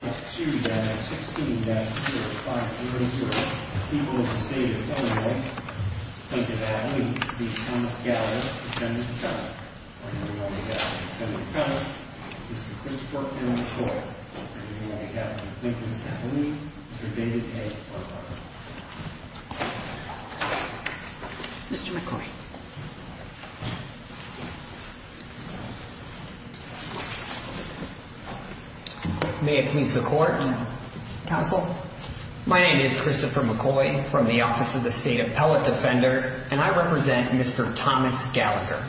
16-05-00, People of the State of Illinois, Lincoln Avenue, v. Thomas Gallagher, Attorney General. Attorney General, Mr. Christopher M. McCoy, Attorney General of Lincoln Avenue, v. David H. Butler. Mr. McCoy. May it please the Court. Counsel. My name is Christopher McCoy from the Office of the State Appellate Defender, and I represent Mr. Thomas Gallagher.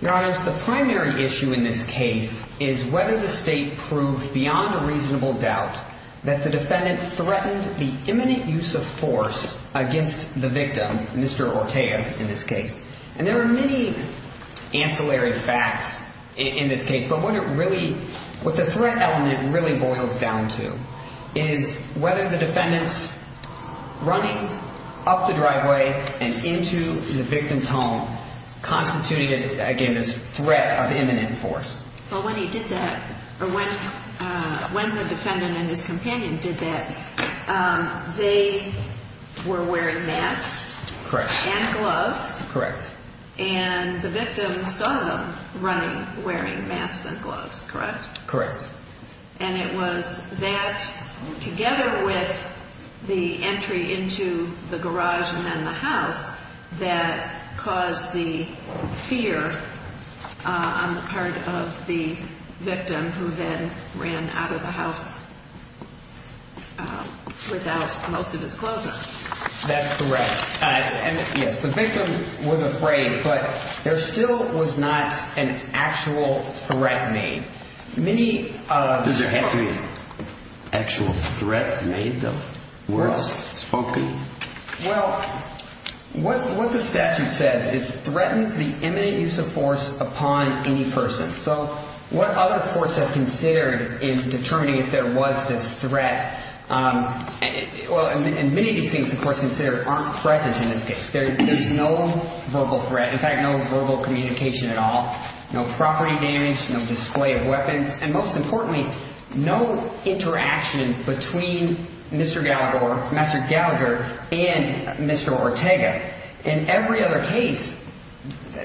Your Honors, the primary issue in this case is whether the State proved beyond a reasonable doubt that the defendant threatened the imminent use of force against the victim, Mr. Ortega, in this case. And there are many ancillary facts in this case, but what the threat element really boils down to is whether the defendant's running up the driveway and into the victim's home constituted, again, this threat of imminent force. Well, when he did that, or when the defendant and his companion did that, they were wearing masks. Correct. And gloves. Correct. And the victim saw them running wearing masks and gloves, correct? Correct. And it was that, together with the entry into the garage and the house, that caused the fear on the part of the victim, who then ran out of the house without most of his clothes on. That's correct. Yes, the victim was afraid, but there still was not an actual threat made. Does there have to be an actual threat made, though? Well, what the statute says is threatens the imminent use of force upon any person. So what other courts have considered in determining if there was this threat? Well, and many of these things, of course, considered aren't present in this case. There's no verbal threat, in fact, no verbal communication at all. No property damage, no display of weapons, and most importantly, no interaction between Mr. Gallagher and Mr. Ortega. In every other case,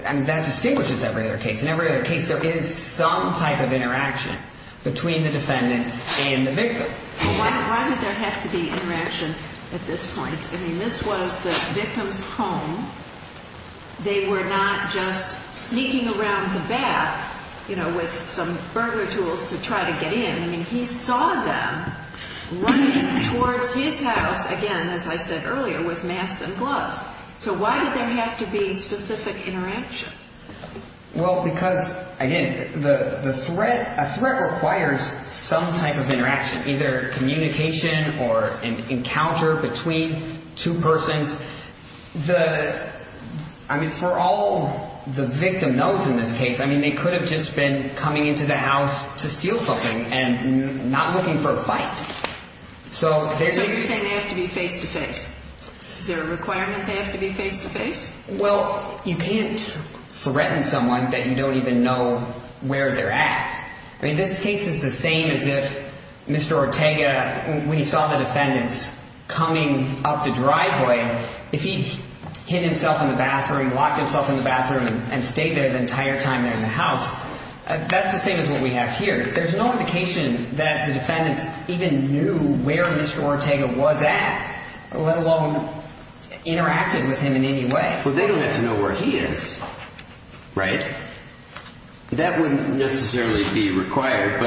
and that distinguishes every other case, in every other case there is some type of interaction between the defendant and the victim. Why did there have to be interaction at this point? I mean, this was the victim's home. They were not just sneaking around the house to try to get in. I mean, he saw them running towards his house, again, as I said earlier, with masks and gloves. So why did there have to be specific interaction? Well, because, again, a threat requires some type of interaction, either communication or an encounter between two persons. I mean, for all the victim knows in this case, I mean, they could have just been coming into the house to steal something and not looking for a fight. So you're saying they have to be face-to-face? Is there a requirement they have to be face-to-face? Well, you can't threaten someone that you don't even know where they're at. I mean, this case is the same as if Mr. Ortega, when he saw the defendants coming up the driveway, if he hid himself in the bathroom, locked himself in the bathroom and stayed there the entire time they're in the house, that's the same as what we have here. There's no indication that the defendants even knew where Mr. Ortega was at, let alone interacted with him in any way. Well, they don't have to know where he is, right? That wouldn't necessarily be required,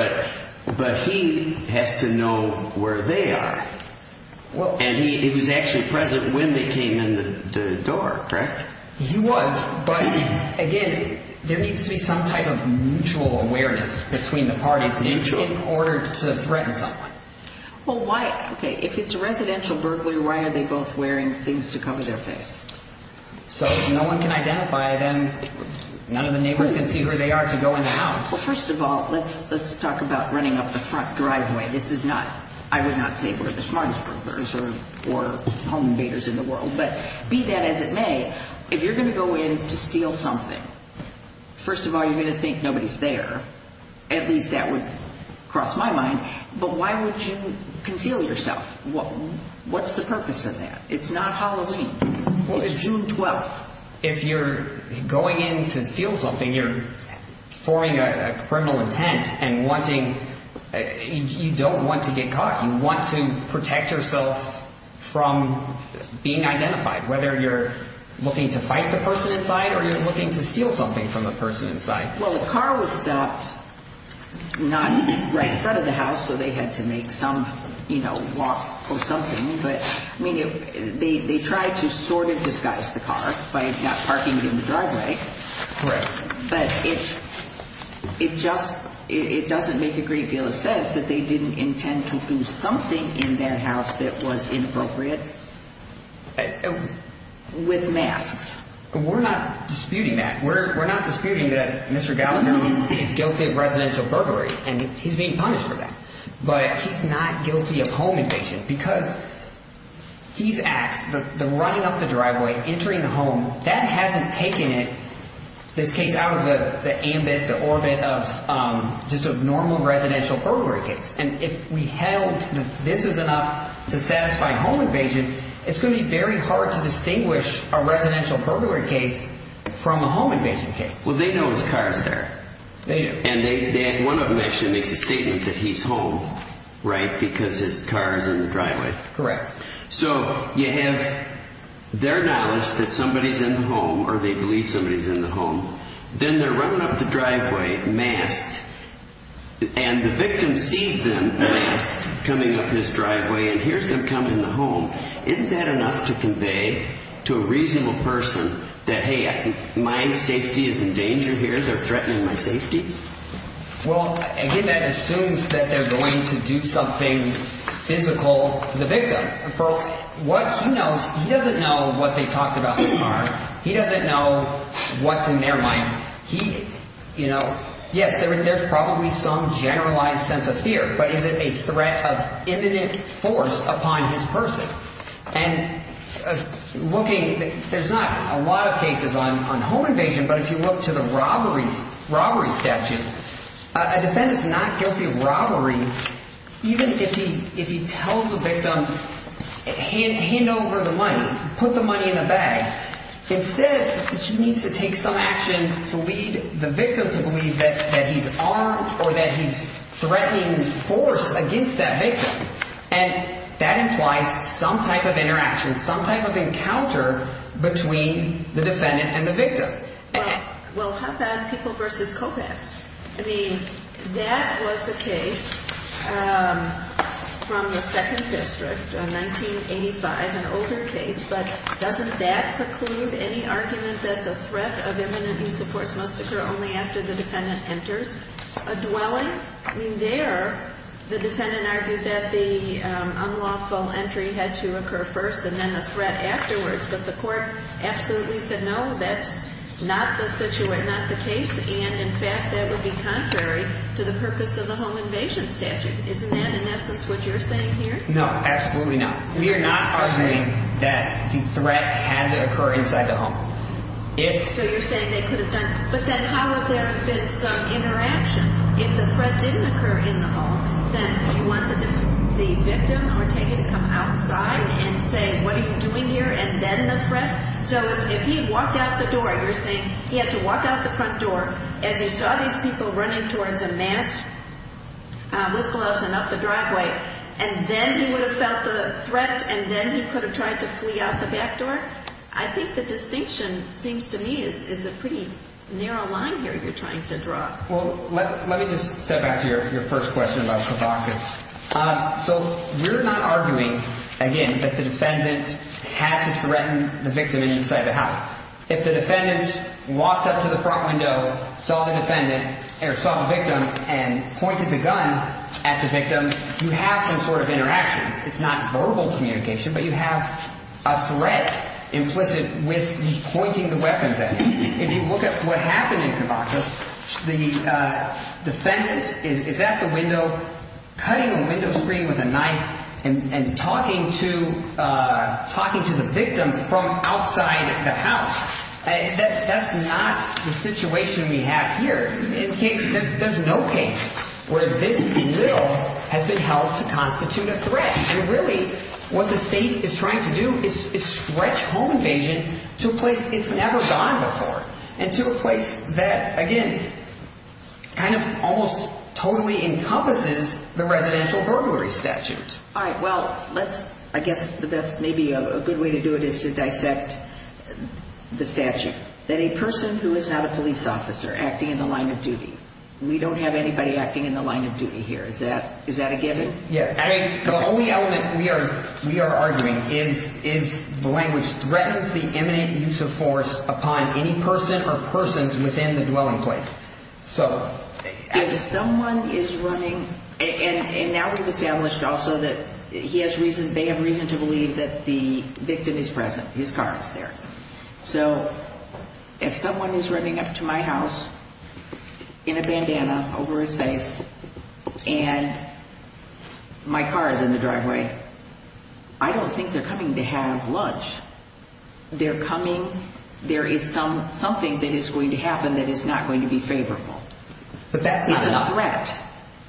but he has to know where they are. And he was actually present when they came in the door, correct? He was, but again, there needs to be some type of mutual awareness between the parties in order to threaten someone. Well, why, okay, if it's a residential burglar, why are they both wearing things to cover their face? So if no one can identify them, none of the neighbors can see who they are to go in the house. Well, first of all, let's talk about running up the front driveway. This is not, I would say, one of the most common baiters in the world, but be that as it may, if you're going to go in to steal something, first of all, you're going to think nobody's there. At least that would cross my mind. But why would you conceal yourself? What's the purpose of that? It's not Halloween. It's June 12th. If you're going in to steal something, you're forming a criminal intent and wanting, you don't want to get caught. You want to protect yourself from being identified, whether you're looking to fight the person inside or you're looking to steal something from the person inside. Well, the car was stopped not right in front of the house, so they had to make some, you know, walk or something. But, I mean, they tried to sort of disguise the car by not parking it in the driveway. Correct. But it just, it doesn't make a great deal of sense that they didn't intend to do something in that house that was inappropriate with masks. We're not disputing that. We're not disputing that Mr. Gallagher is guilty of residential burglary and he's being punished for that. But he's not guilty of home invasion because these acts, the running up the driveway, entering the home, that hasn't taken this case out of the ambit, the orbit of just a this is enough to satisfy home invasion, it's going to be very hard to distinguish a residential burglary case from a home invasion case. Well, they know his car's there. They do. And they, one of them actually makes a statement that he's home, right, because his car's in the driveway. Correct. So, you have their knowledge that somebody's in the home or they believe somebody's in the home, then they're running up the driveway masked and the victim sees them masked coming up his driveway and hears them come in the home. Isn't that enough to convey to a reasonable person that, hey, my safety is in danger here, they're threatening my safety? Well, again, that assumes that they're going to do something physical to the victim. For what he knows, he doesn't know what they talked about in his car. He doesn't know what's in their minds. He, you know, yes, there's probably some generalized sense of fear, but is it a threat of imminent force upon his person? And looking, there's not a lot of cases on home invasion, but if you look to the robbery statute, a defendant's not guilty of robbery even if he tells the victim, hand over the money in the bag. Instead, she needs to take some action to lead the victim to believe that he's armed or that he's threatening force against that victim. And that implies some type of interaction, some type of encounter between the defendant and the victim. Well, how about people versus co-paps? I mean, that was a case from the Second District in 1985, an older case, but doesn't that preclude any argument that the threat of imminent use of force must occur only after the defendant enters a dwelling? I mean, there, the defendant argued that the unlawful entry had to occur first and then the threat afterwards, but the court absolutely said, no, that's not the situation, not the case, and in fact, that would be contrary to the purpose of the home invasion statute. Isn't that, in essence, what you're saying here? No, absolutely not. We are not arguing that the threat had to occur inside the home. So you're saying they could have done, but then how would there have been some interaction? If the threat didn't occur in the home, then do you want the victim or take it to come outside and say, what are you doing here, and then the threat? So if he walked out the door, you're saying he had to walk out the front door. As you saw these people running towards a mast with gloves and up the driveway, and then he would have felt the threat and then he could have tried to flee out the back door? I think the distinction seems to me is a pretty narrow line here you're trying to draw. Well, let me just step back to your first question about Kavakas. So we're not arguing, again, that the defendant had to threaten the victim inside the house. If the defendant walked up to the front window, saw the victim, and pointed the gun at the victim, you have some sort of interaction. It's not verbal communication, but you have a threat implicit with pointing the weapons at him. If you look at what happened in Kavakas, the defendant is at the window, cutting a window screen with a knife, and talking to the victim from outside the house. That's not the situation we have here. There's no case where this little has been held to constitute a threat. And really, what the state is trying to do is stretch home invasion to a place it's never gone before, and to a place that, again, kind of almost totally encompasses the residential burglary statute. All right. Well, let's, I guess the best, maybe a good way to do it is to dissect the statute. That a person who is not a police officer acting in the line of duty, we don't have anybody acting in the line of duty here. Is that a given? Yeah. I mean, the only element we are arguing is the language threatens the imminent use of force upon any person or persons within the dwelling place. So... If someone is running, and now we've established also that they have reason to believe that the victim is present, his car is there. So if someone is running up to my house in a bandana over his face, and my car is in the driveway, I don't think they're coming to have lunch. They're coming, there is something that is going to happen that is not going to be favorable. But that's not a threat. It's not a threat.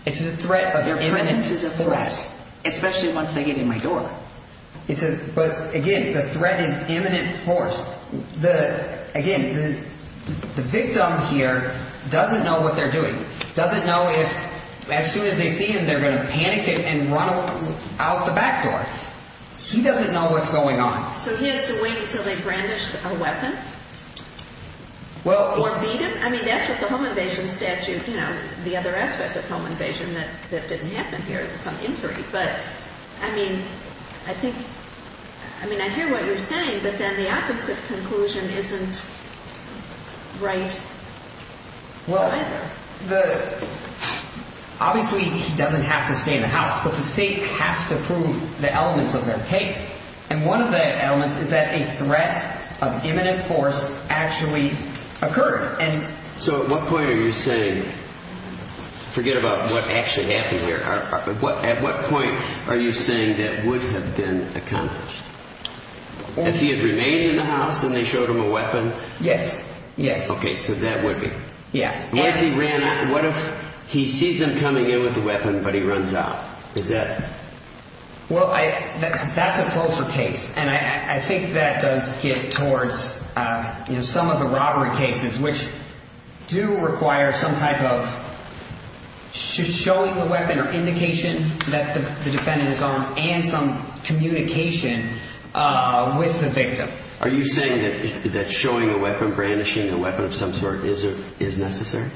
It's a threat of imminent force. Their presence is a threat, especially once they get in my door. It's a, but again, the threat is imminent force. The, again, the victim here doesn't know what they're doing. Doesn't know if, as soon as they see him, they're going to panic it and run out the back door. He doesn't know what's going on. So he has to wait until they brandish a weapon? Well... Or beat him? I mean, that's what the home invasion statute, you know, the other aspect of home invasion that didn't happen here, some injury. But, I mean, I think, I mean, I hear what you're saying, but then the opposite conclusion isn't right either. Well, the, obviously he doesn't have to stay in the house, but the state has to prove the threat of imminent force actually occurred. So at what point are you saying, forget about what actually happened here, at what point are you saying that would have been accomplished? If he had remained in the house and they showed him a weapon? Yes, yes. Okay, so that would be. Yeah. What if he ran out, what if he sees them coming in with a weapon, but he runs out? Is that... Well, I, that's a closer case. And I think that does get towards, you know, some of the robbery cases, which do require some type of showing the weapon or indication that the defendant is armed and some communication with the victim. Are you saying that showing a weapon, brandishing a weapon of some sort is necessary?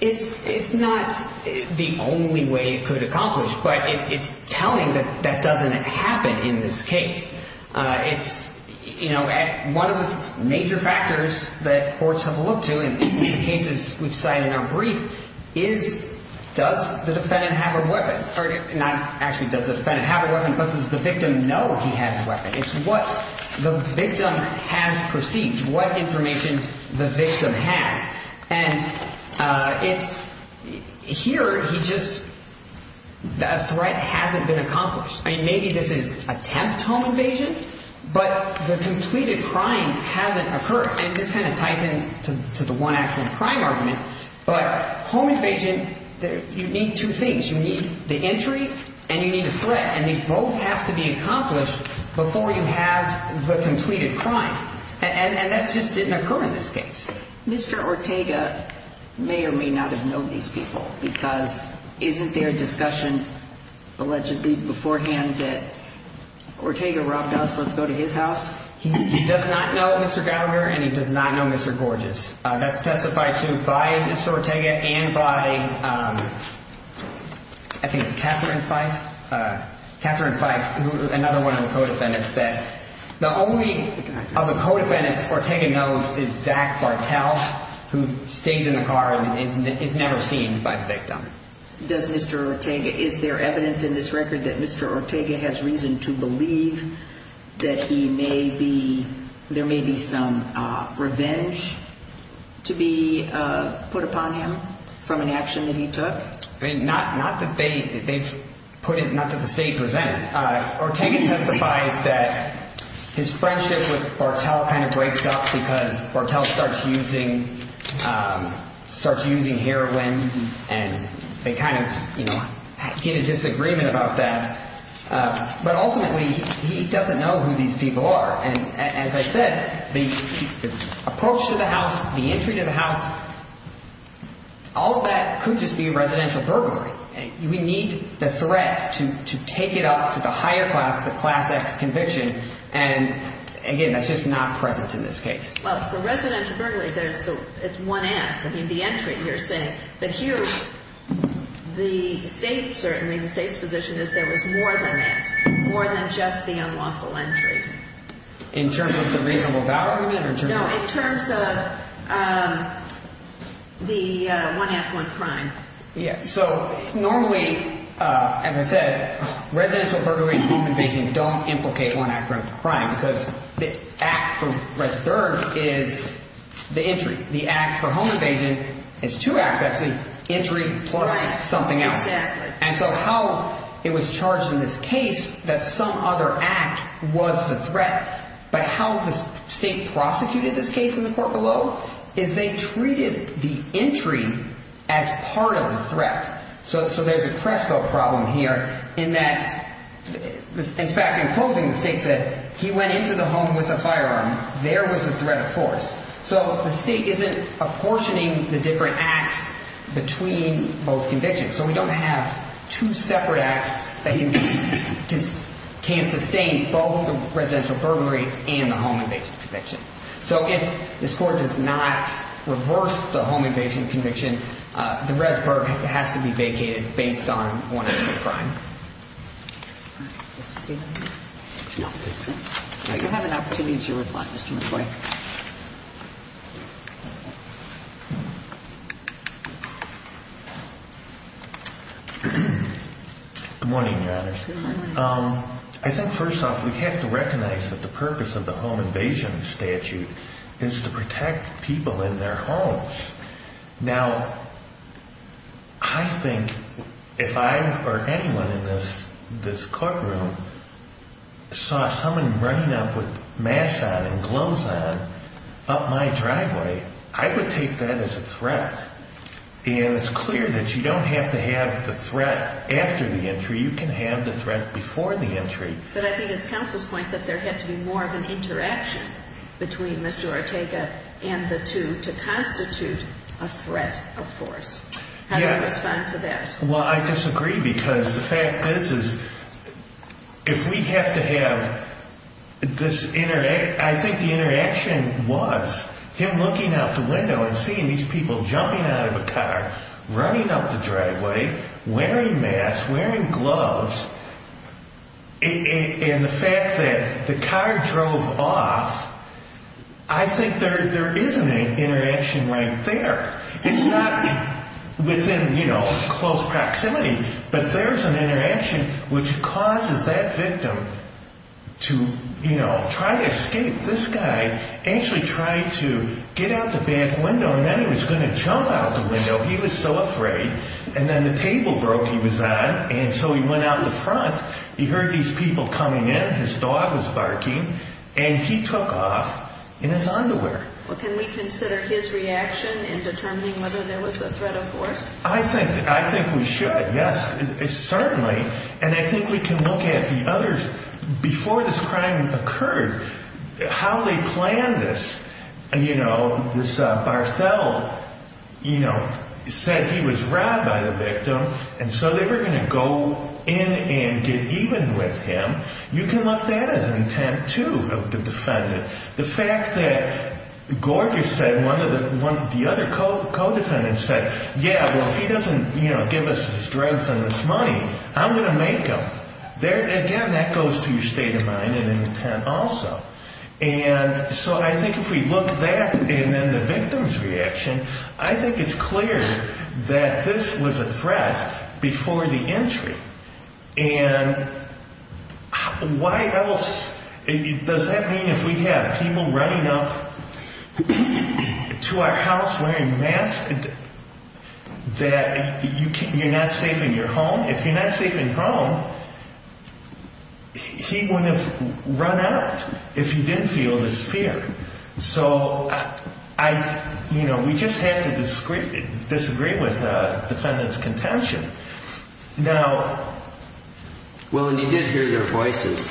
It's, it's not the only way it could accomplish, but it's telling that that doesn't happen in this case. It's, you know, one of the major factors that courts have looked to in the cases we've cited in our brief is does the defendant have a weapon or not actually does the defendant have a weapon, but does the victim know he has a weapon? It's what the And it's, here he just, a threat hasn't been accomplished. I mean, maybe this is attempt home invasion, but the completed crime hasn't occurred. And this kind of ties into the one actual crime argument, but home invasion, you need two things. You need the entry and you need a threat, and they both have to be accomplished before you have the completed crime. And that just didn't occur in this case. Mr. Ortega may or may not have known these people because isn't there a discussion allegedly beforehand that Ortega robbed us. Let's go to his house. He does not know Mr. Gallagher and he does not know Mr. Gorgeous. That's testified to by Mr. Ortega and by, I think it's Catherine Fife. Catherine Fife, another one of the co-defendants Ortega knows is Zach Bartel, who stays in the car and is never seen by the victim. Does Mr. Ortega, is there evidence in this record that Mr. Ortega has reason to believe that he may be, there may be some revenge to be put upon him from an action that he took? I mean, not that they've put it, not that the state presented it. Ortega testifies that his friendship with Bartel kind of breaks up because Bartel starts using, starts using heroin and they kind of get a disagreement about that. But ultimately, he doesn't know who these people are. And as I said, the approach to the house, the entry to the house, all of that could just be residential burglary. We need the threat to take it up to the higher class, the class X conviction. And again, that's just not present in this case. Well, for residential burglary, there's the one act. I mean, the entry you're saying. But here, the state, certainly the state's position is there was more than that, more than just the unlawful entry. In terms of the reasonable value? No, in terms of the one act, one crime. Yeah. So normally, as I said, residential burglary and home invasion don't implicate one act of crime because the act for residential burglary is the entry. The act for home invasion is two acts actually, entry plus something else. And so how it was charged in this case that some other act was the threat, but how the state prosecuted this case in the court below is they treated the entry as part of the threat. So there's a Crespo problem here in that, in fact, in closing, the state said he went into the home with a firearm. There was a threat of force. So the state isn't apportioning the different acts between both convictions. So we don't have two separate acts that can sustain both the residential burglary and the home invasion conviction. So if this court does not reverse the home invasion conviction, the res burglary has to be vacated based on one act of crime. Mr. Seidman? No. You have an opportunity to reply, Mr. McCoy. Good morning, Your Honor. Good morning. I think, first off, we have to recognize that the purpose of the home invasion statute is to protect people in their homes. Now, I think if I or anyone in this courtroom saw someone running up with masks on and gloves on up my driveway, I would take that as a threat. And it's clear that you don't have to have the threat after the entry. You can have the threat before the entry. But I think it's counsel's point that there had to be more of an interaction between Mr. Ortega and the two to constitute a threat of force. How do you respond to that? Well, I disagree because the fact is, if we have to have this interaction, I think the interaction was him looking out the window and seeing these people jumping out of a car, running up the driveway, wearing masks, wearing gloves. And the fact that the car drove off, I think there is an interaction right there. It's not within, you know, close proximity, but there's an interaction which causes that victim to, you know, try to escape. This guy actually tried to get out the back window, and then he was going to jump out the window. He was so afraid. And then the table broke he was on, and so he went out the front. He heard these people coming in. His dog was barking. And he took off in his underwear. Well, can we consider his reaction in determining whether there was a threat of force? I think we should, yes, certainly. And I think we can look at the others. Before this crime occurred, how they planned this, you know, this Barthel, you know, said he was robbed by the victim, and so they were going to go in and get even with him. You can look at that as an attempt, too, of the defendant. The fact that Gorgas said, one of the other co-defendants said, yeah, well, he doesn't, you know, give us his drugs and his money. I'm going to make him. Again, that goes to your state of mind and intent also. And so I think if we look at that and then the victim's reaction, I think it's clear that this was a threat before the entry. And why else does that mean if we have people running up to our house wearing masks that you're not safe in your home? If you're not safe in your home, he wouldn't have run out if he didn't feel this fear. So, you know, we just have to disagree with the defendant's contention. Now. Well, and he did hear their voices.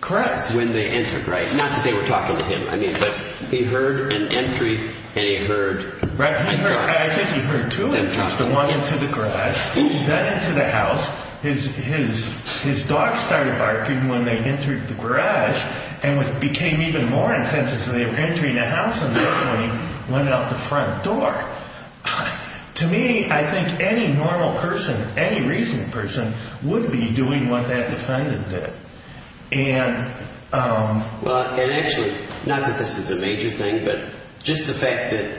Correct. When they entered, right? Not that they were talking to him. I mean, but he heard an entry and he heard. I think he heard two entries, the one into the garage, then into the house. His his his dog started barking when they entered the garage and it became even more intense as they were entering the house and went out the front door. To me, I think any normal person, any reasonable person would be doing what that defendant did. And well, and actually not that this is a major thing, but just the fact that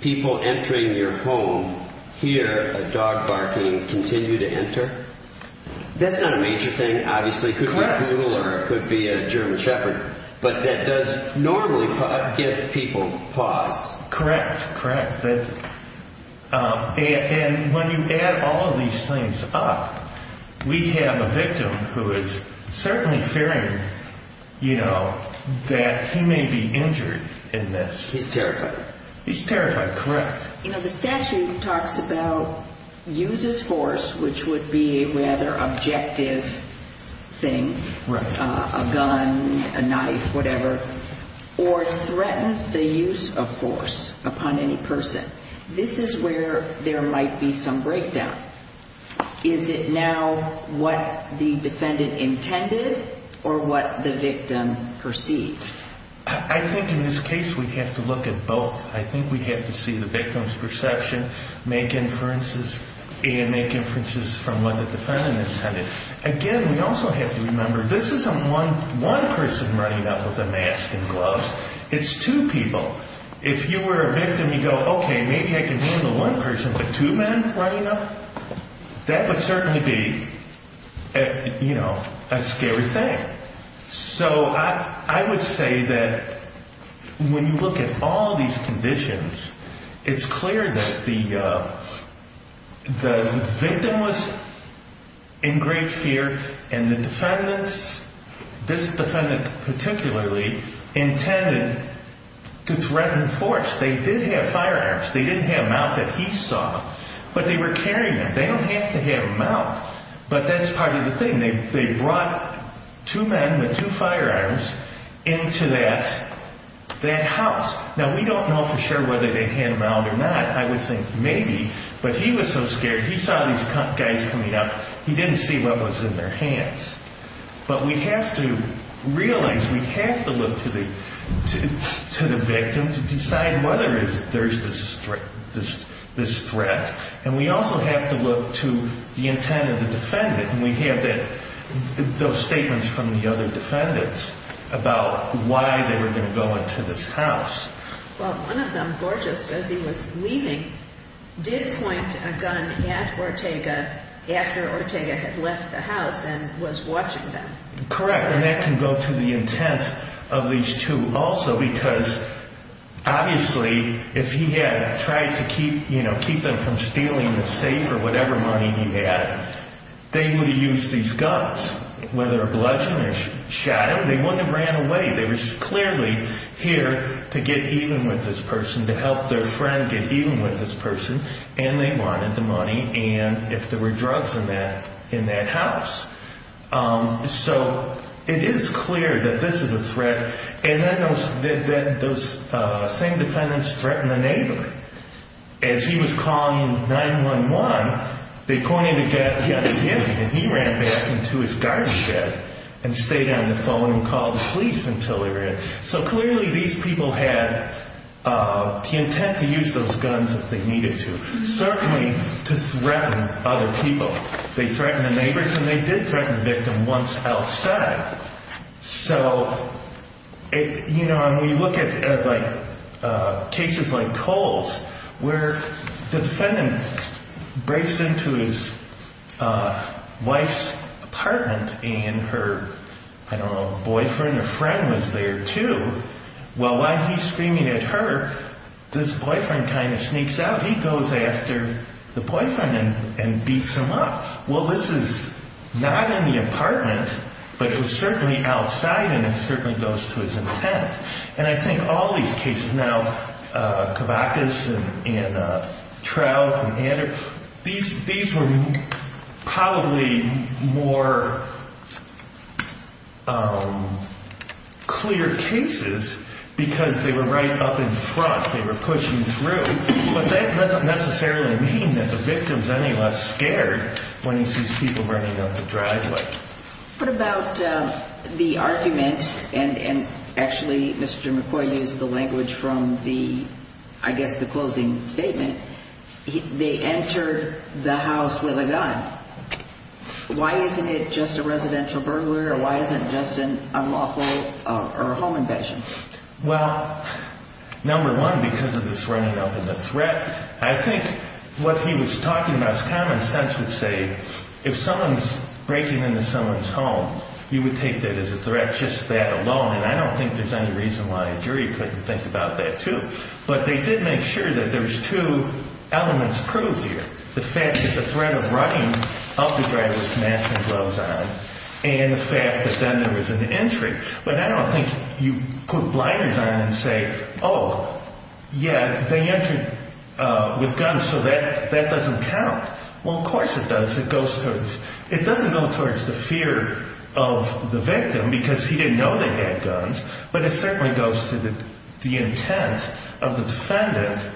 people entering your home here, a dog barking, continue to enter. That's not a major thing, obviously, could be a German shepherd, but that does normally give people pause. Correct. Correct. And when you add all these things up, we have a victim who is certainly fearing, you know, that he may be injured in this. He's terrified. He's terrified. Correct. You know, the statute talks about uses force, which would be a rather objective thing, a gun, a knife, whatever, or threatens the use of force upon any person. This is where there might be some breakdown. Is it now what the defendant intended or what the victim perceived? I think in this case we have to look at both. I think we have to see the victim's perception, make inferences and make inferences from what the defendant intended. Again, we also have to remember this isn't one one person running up with a mask and gloves. It's two people. If you were a victim, you go, OK, maybe I can handle one person. But two men running up, that would certainly be, you know, a scary thing. So I would say that when you look at all these conditions, it's clear that the victim was in great fear and the defendants, this defendant particularly, intended to threaten force. They did have firearms. They didn't have a mount that he saw, but they were carrying them. They don't have to have a mount, but that's part of the thing. They brought two men with two firearms into that house. Now, we don't know for sure whether they had a mount or not. I would think maybe, but he was so scared. He saw these guys coming up. He didn't see what was in their hands. But we have to realize, we have to look to the victim to decide whether there's this threat. And we also have to look to the intent of the defendant. And we have those statements from the other defendants about why they were going to go into this house. Well, one of them, Borges, as he was leaving, did point a gun at Ortega after Ortega had left the house and was watching them. Correct. And that can go to the intent of these two also, because obviously, if he had tried to keep them from stealing the safe or whatever money he had, they would have used these guns. Whether a bludgeon or shot him, they wouldn't have ran away. They were clearly here to get even with this person, to help their friend get even with this person. And they wanted the money and if there were drugs in that house. So it is clear that this is a threat. And then those same defendants threatened to enable it. As he was calling 9-1-1, they pointed a gun at him and he ran back into his garden shed and stayed on the phone and called the police until they were in. So clearly these people had the intent to use those guns if they needed to, certainly to threaten other people. They threatened the neighbors and they did threaten the victim once outside. And we look at cases like Cole's where the defendant breaks into his wife's apartment and her boyfriend or friend was there too. While he's screaming at her, this boyfriend kind of sneaks out. He goes after the boyfriend and beats him up. Well, this is not in the apartment, but it was certainly outside and it certainly goes to his intent. And I think all these cases now, Cavacas and Trout and Anders, these were probably more clear cases because they were right up in front. They were pushing through. But that doesn't necessarily mean that the victim is any less scared when he sees people running up the driveway. What about the argument, and actually Mr. McCoy used the language from the, I guess the closing statement, they entered the house with a gun. Why isn't it just a residential burglar or why isn't it just an unlawful or a home invasion? Well, number one, because of this running up in the threat. I think what he was talking about is common sense would say if someone's breaking into someone's home, you would take that as a threat, just that alone. And I don't think there's any reason why a jury couldn't think about that too. But they did make sure that there's two elements proved here. The fact that the threat of running up the driveway with masks and gloves on and the fact that then there was an entry. But I don't think you put blinders on and say, oh, yeah, they entered with guns. So that that doesn't count. Well, of course it does. It goes to it doesn't go towards the fear of the victim because he didn't know they had guns. But it certainly goes to the intent of the defendant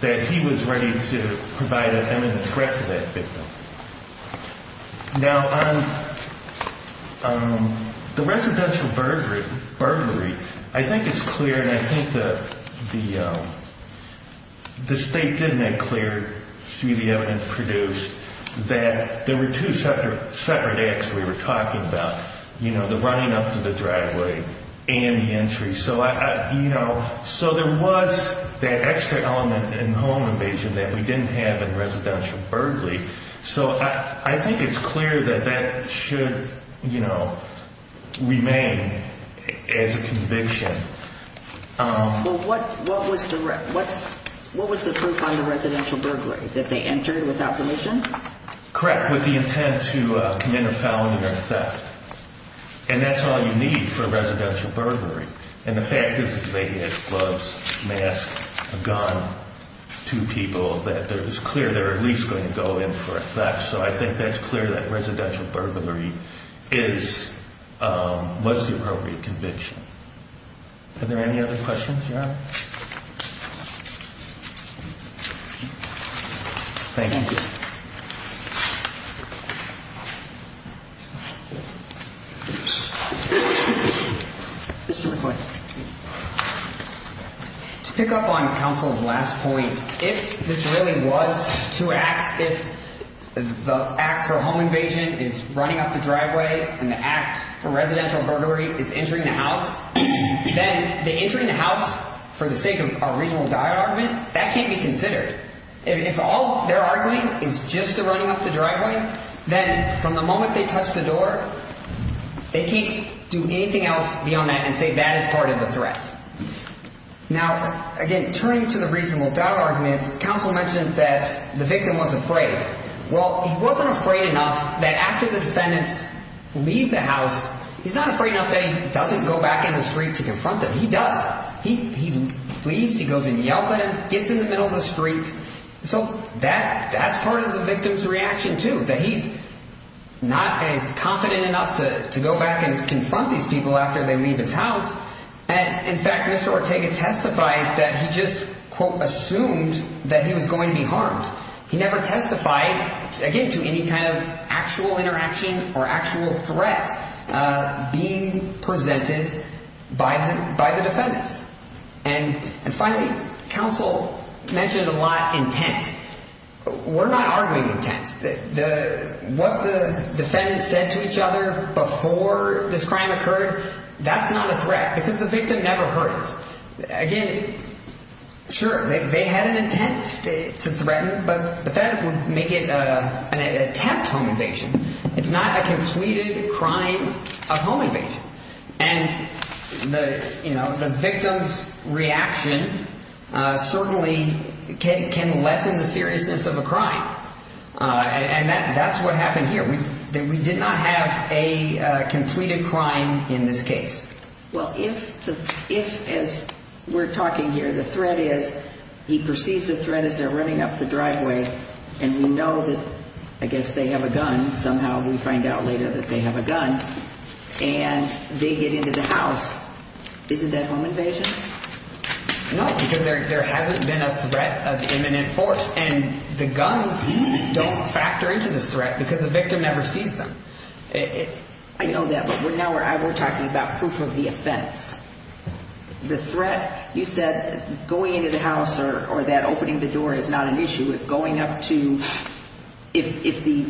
that he was ready to provide an imminent threat to that victim. Now, the residential burglary. I think it's clear. And I think that the the state did make clear studio and produced that there were two separate acts. We were talking about, you know, the running up to the driveway and the entry. So, you know, so there was that extra element in home invasion that we didn't have in residential burglary. So I think it's clear that that should, you know, remain as a conviction. What what was the what's what was the proof on the residential burglary that they entered without permission? Correct. With the intent to commit a felony or a theft. And that's all you need for a residential burglary. And the fact is they had gloves, mask, a gun to people that it was clear they were at least going to go in for a theft. So I think that's clear that residential burglary is what's the appropriate conviction? Are there any other questions? Thank you. Mr. McCoy. To pick up on counsel's last point, if this really was two acts, if the act for home invasion is running up the driveway and the act for residential burglary is entering the house, then the entering the house for the sake of a regional document that can't be considered. If all they're arguing is just a running up the driveway, then from the moment they touch the door, they can't do anything else beyond that and say that is part of the threat. Now, again, turning to the reasonable doubt argument, counsel mentioned that the victim was afraid. Well, he wasn't afraid enough that after the defendants leave the house, he's not afraid that he doesn't go back in the street to confront them. He does. He leaves. He goes and yells at him, gets in the middle of the street. So that that's part of the victim's reaction to that. He's not as confident enough to go back and confront these people after they leave his house. And in fact, Mr. Ortega testified that he just assumed that he was going to be harmed. He never testified, again, to any kind of actual interaction or actual threat being presented by him, by the defendants. And finally, counsel mentioned a lot intent. We're not arguing intent. What the defendants said to each other before this crime occurred, that's not a threat because the victim never heard it. Again, sure, they had an intent to threaten, but that would make it an attempt home invasion. It's not a completed crime of home invasion. And the victim's reaction certainly can lessen the seriousness of a crime. And that's what happened here. We did not have a completed crime in this case. Well, if the if as we're talking here, the threat is he perceives a threat as they're running up the driveway. And we know that I guess they have a gun. Somehow we find out later that they have a gun and they get into the house. Isn't that home invasion? No, because there hasn't been a threat of imminent force. And the guns don't factor into this threat because the victim never sees them. I know that we're now we're talking about proof of the offense. The threat you said going into the house or that opening the door is not an issue. If going up to if the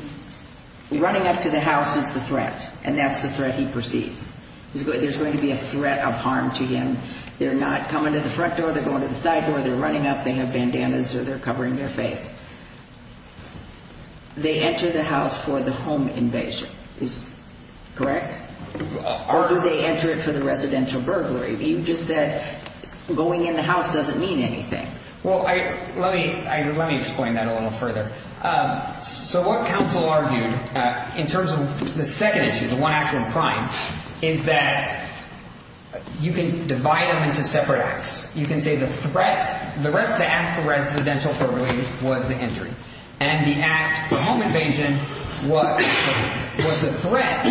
running up to the house is the threat and that's the threat he perceives, there's going to be a threat of harm to him. They're not coming to the front door. They're going to the side door. They're running up. They have bandanas or they're covering their face. They enter the house for the home invasion is correct, or do they enter it for the residential burglary? You just said going in the house doesn't mean anything. Well, let me let me explain that a little further. So what counsel argued in terms of the second issue, the one act of crime, is that you can divide them into separate acts. You can say the threat, the act of residential burglary was the injury and the act of home invasion was a threat.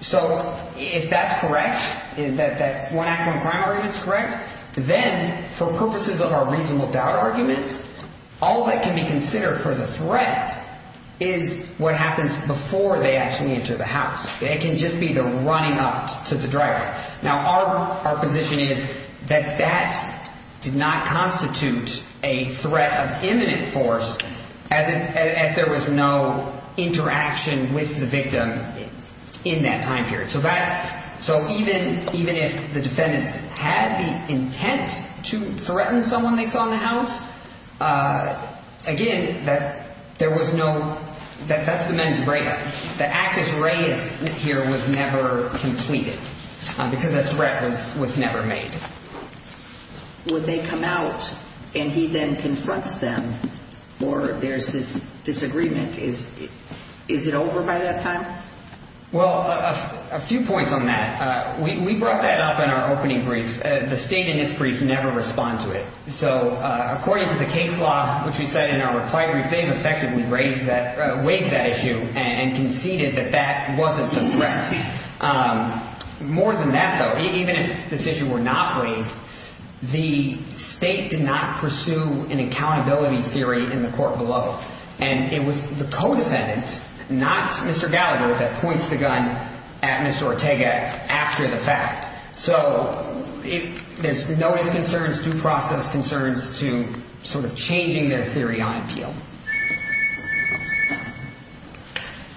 So if that's correct, that one act of crime is correct. Then for purposes of our reasonable doubt arguments, all that can be considered for the threat is what happens before they actually enter the house. It can just be the running up to the driver. Now, our position is that that did not constitute a threat of imminent force as if there was no interaction with the victim in that time period. So that so even even if the defendants had the intent to threaten someone they saw in the house again, that there was no that that's the men's brain. The act is raised here was never completed because that's records was never made. Would they come out and he then confronts them or there's this disagreement? Is it over by that time? Well, a few points on that. We brought that up in our opening brief. The state in this brief never respond to it. So according to the case law, which we said in our reply, they've effectively raised that wave that issue and conceded that that wasn't the threat. More than that, though, even if this issue were not waived, the state did not pursue an accountability theory in the court below. And it was the codependent, not Mr. Gallagher, that points the gun at Mr. Ortega after the fact. So if there's no concerns, due process concerns to sort of changing their theory on appeal.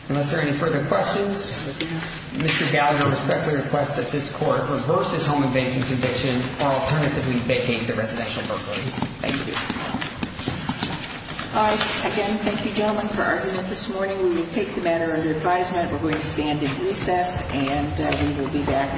Unless there are any further questions, Mr. Gallagher, I respectfully request that this court reverses home invasion conviction or alternatively vacate the residential. Thank you. All right. Again, thank you, gentlemen, for argument this morning. We will take the matter under advisement. We're going to stand in recess and we will be back.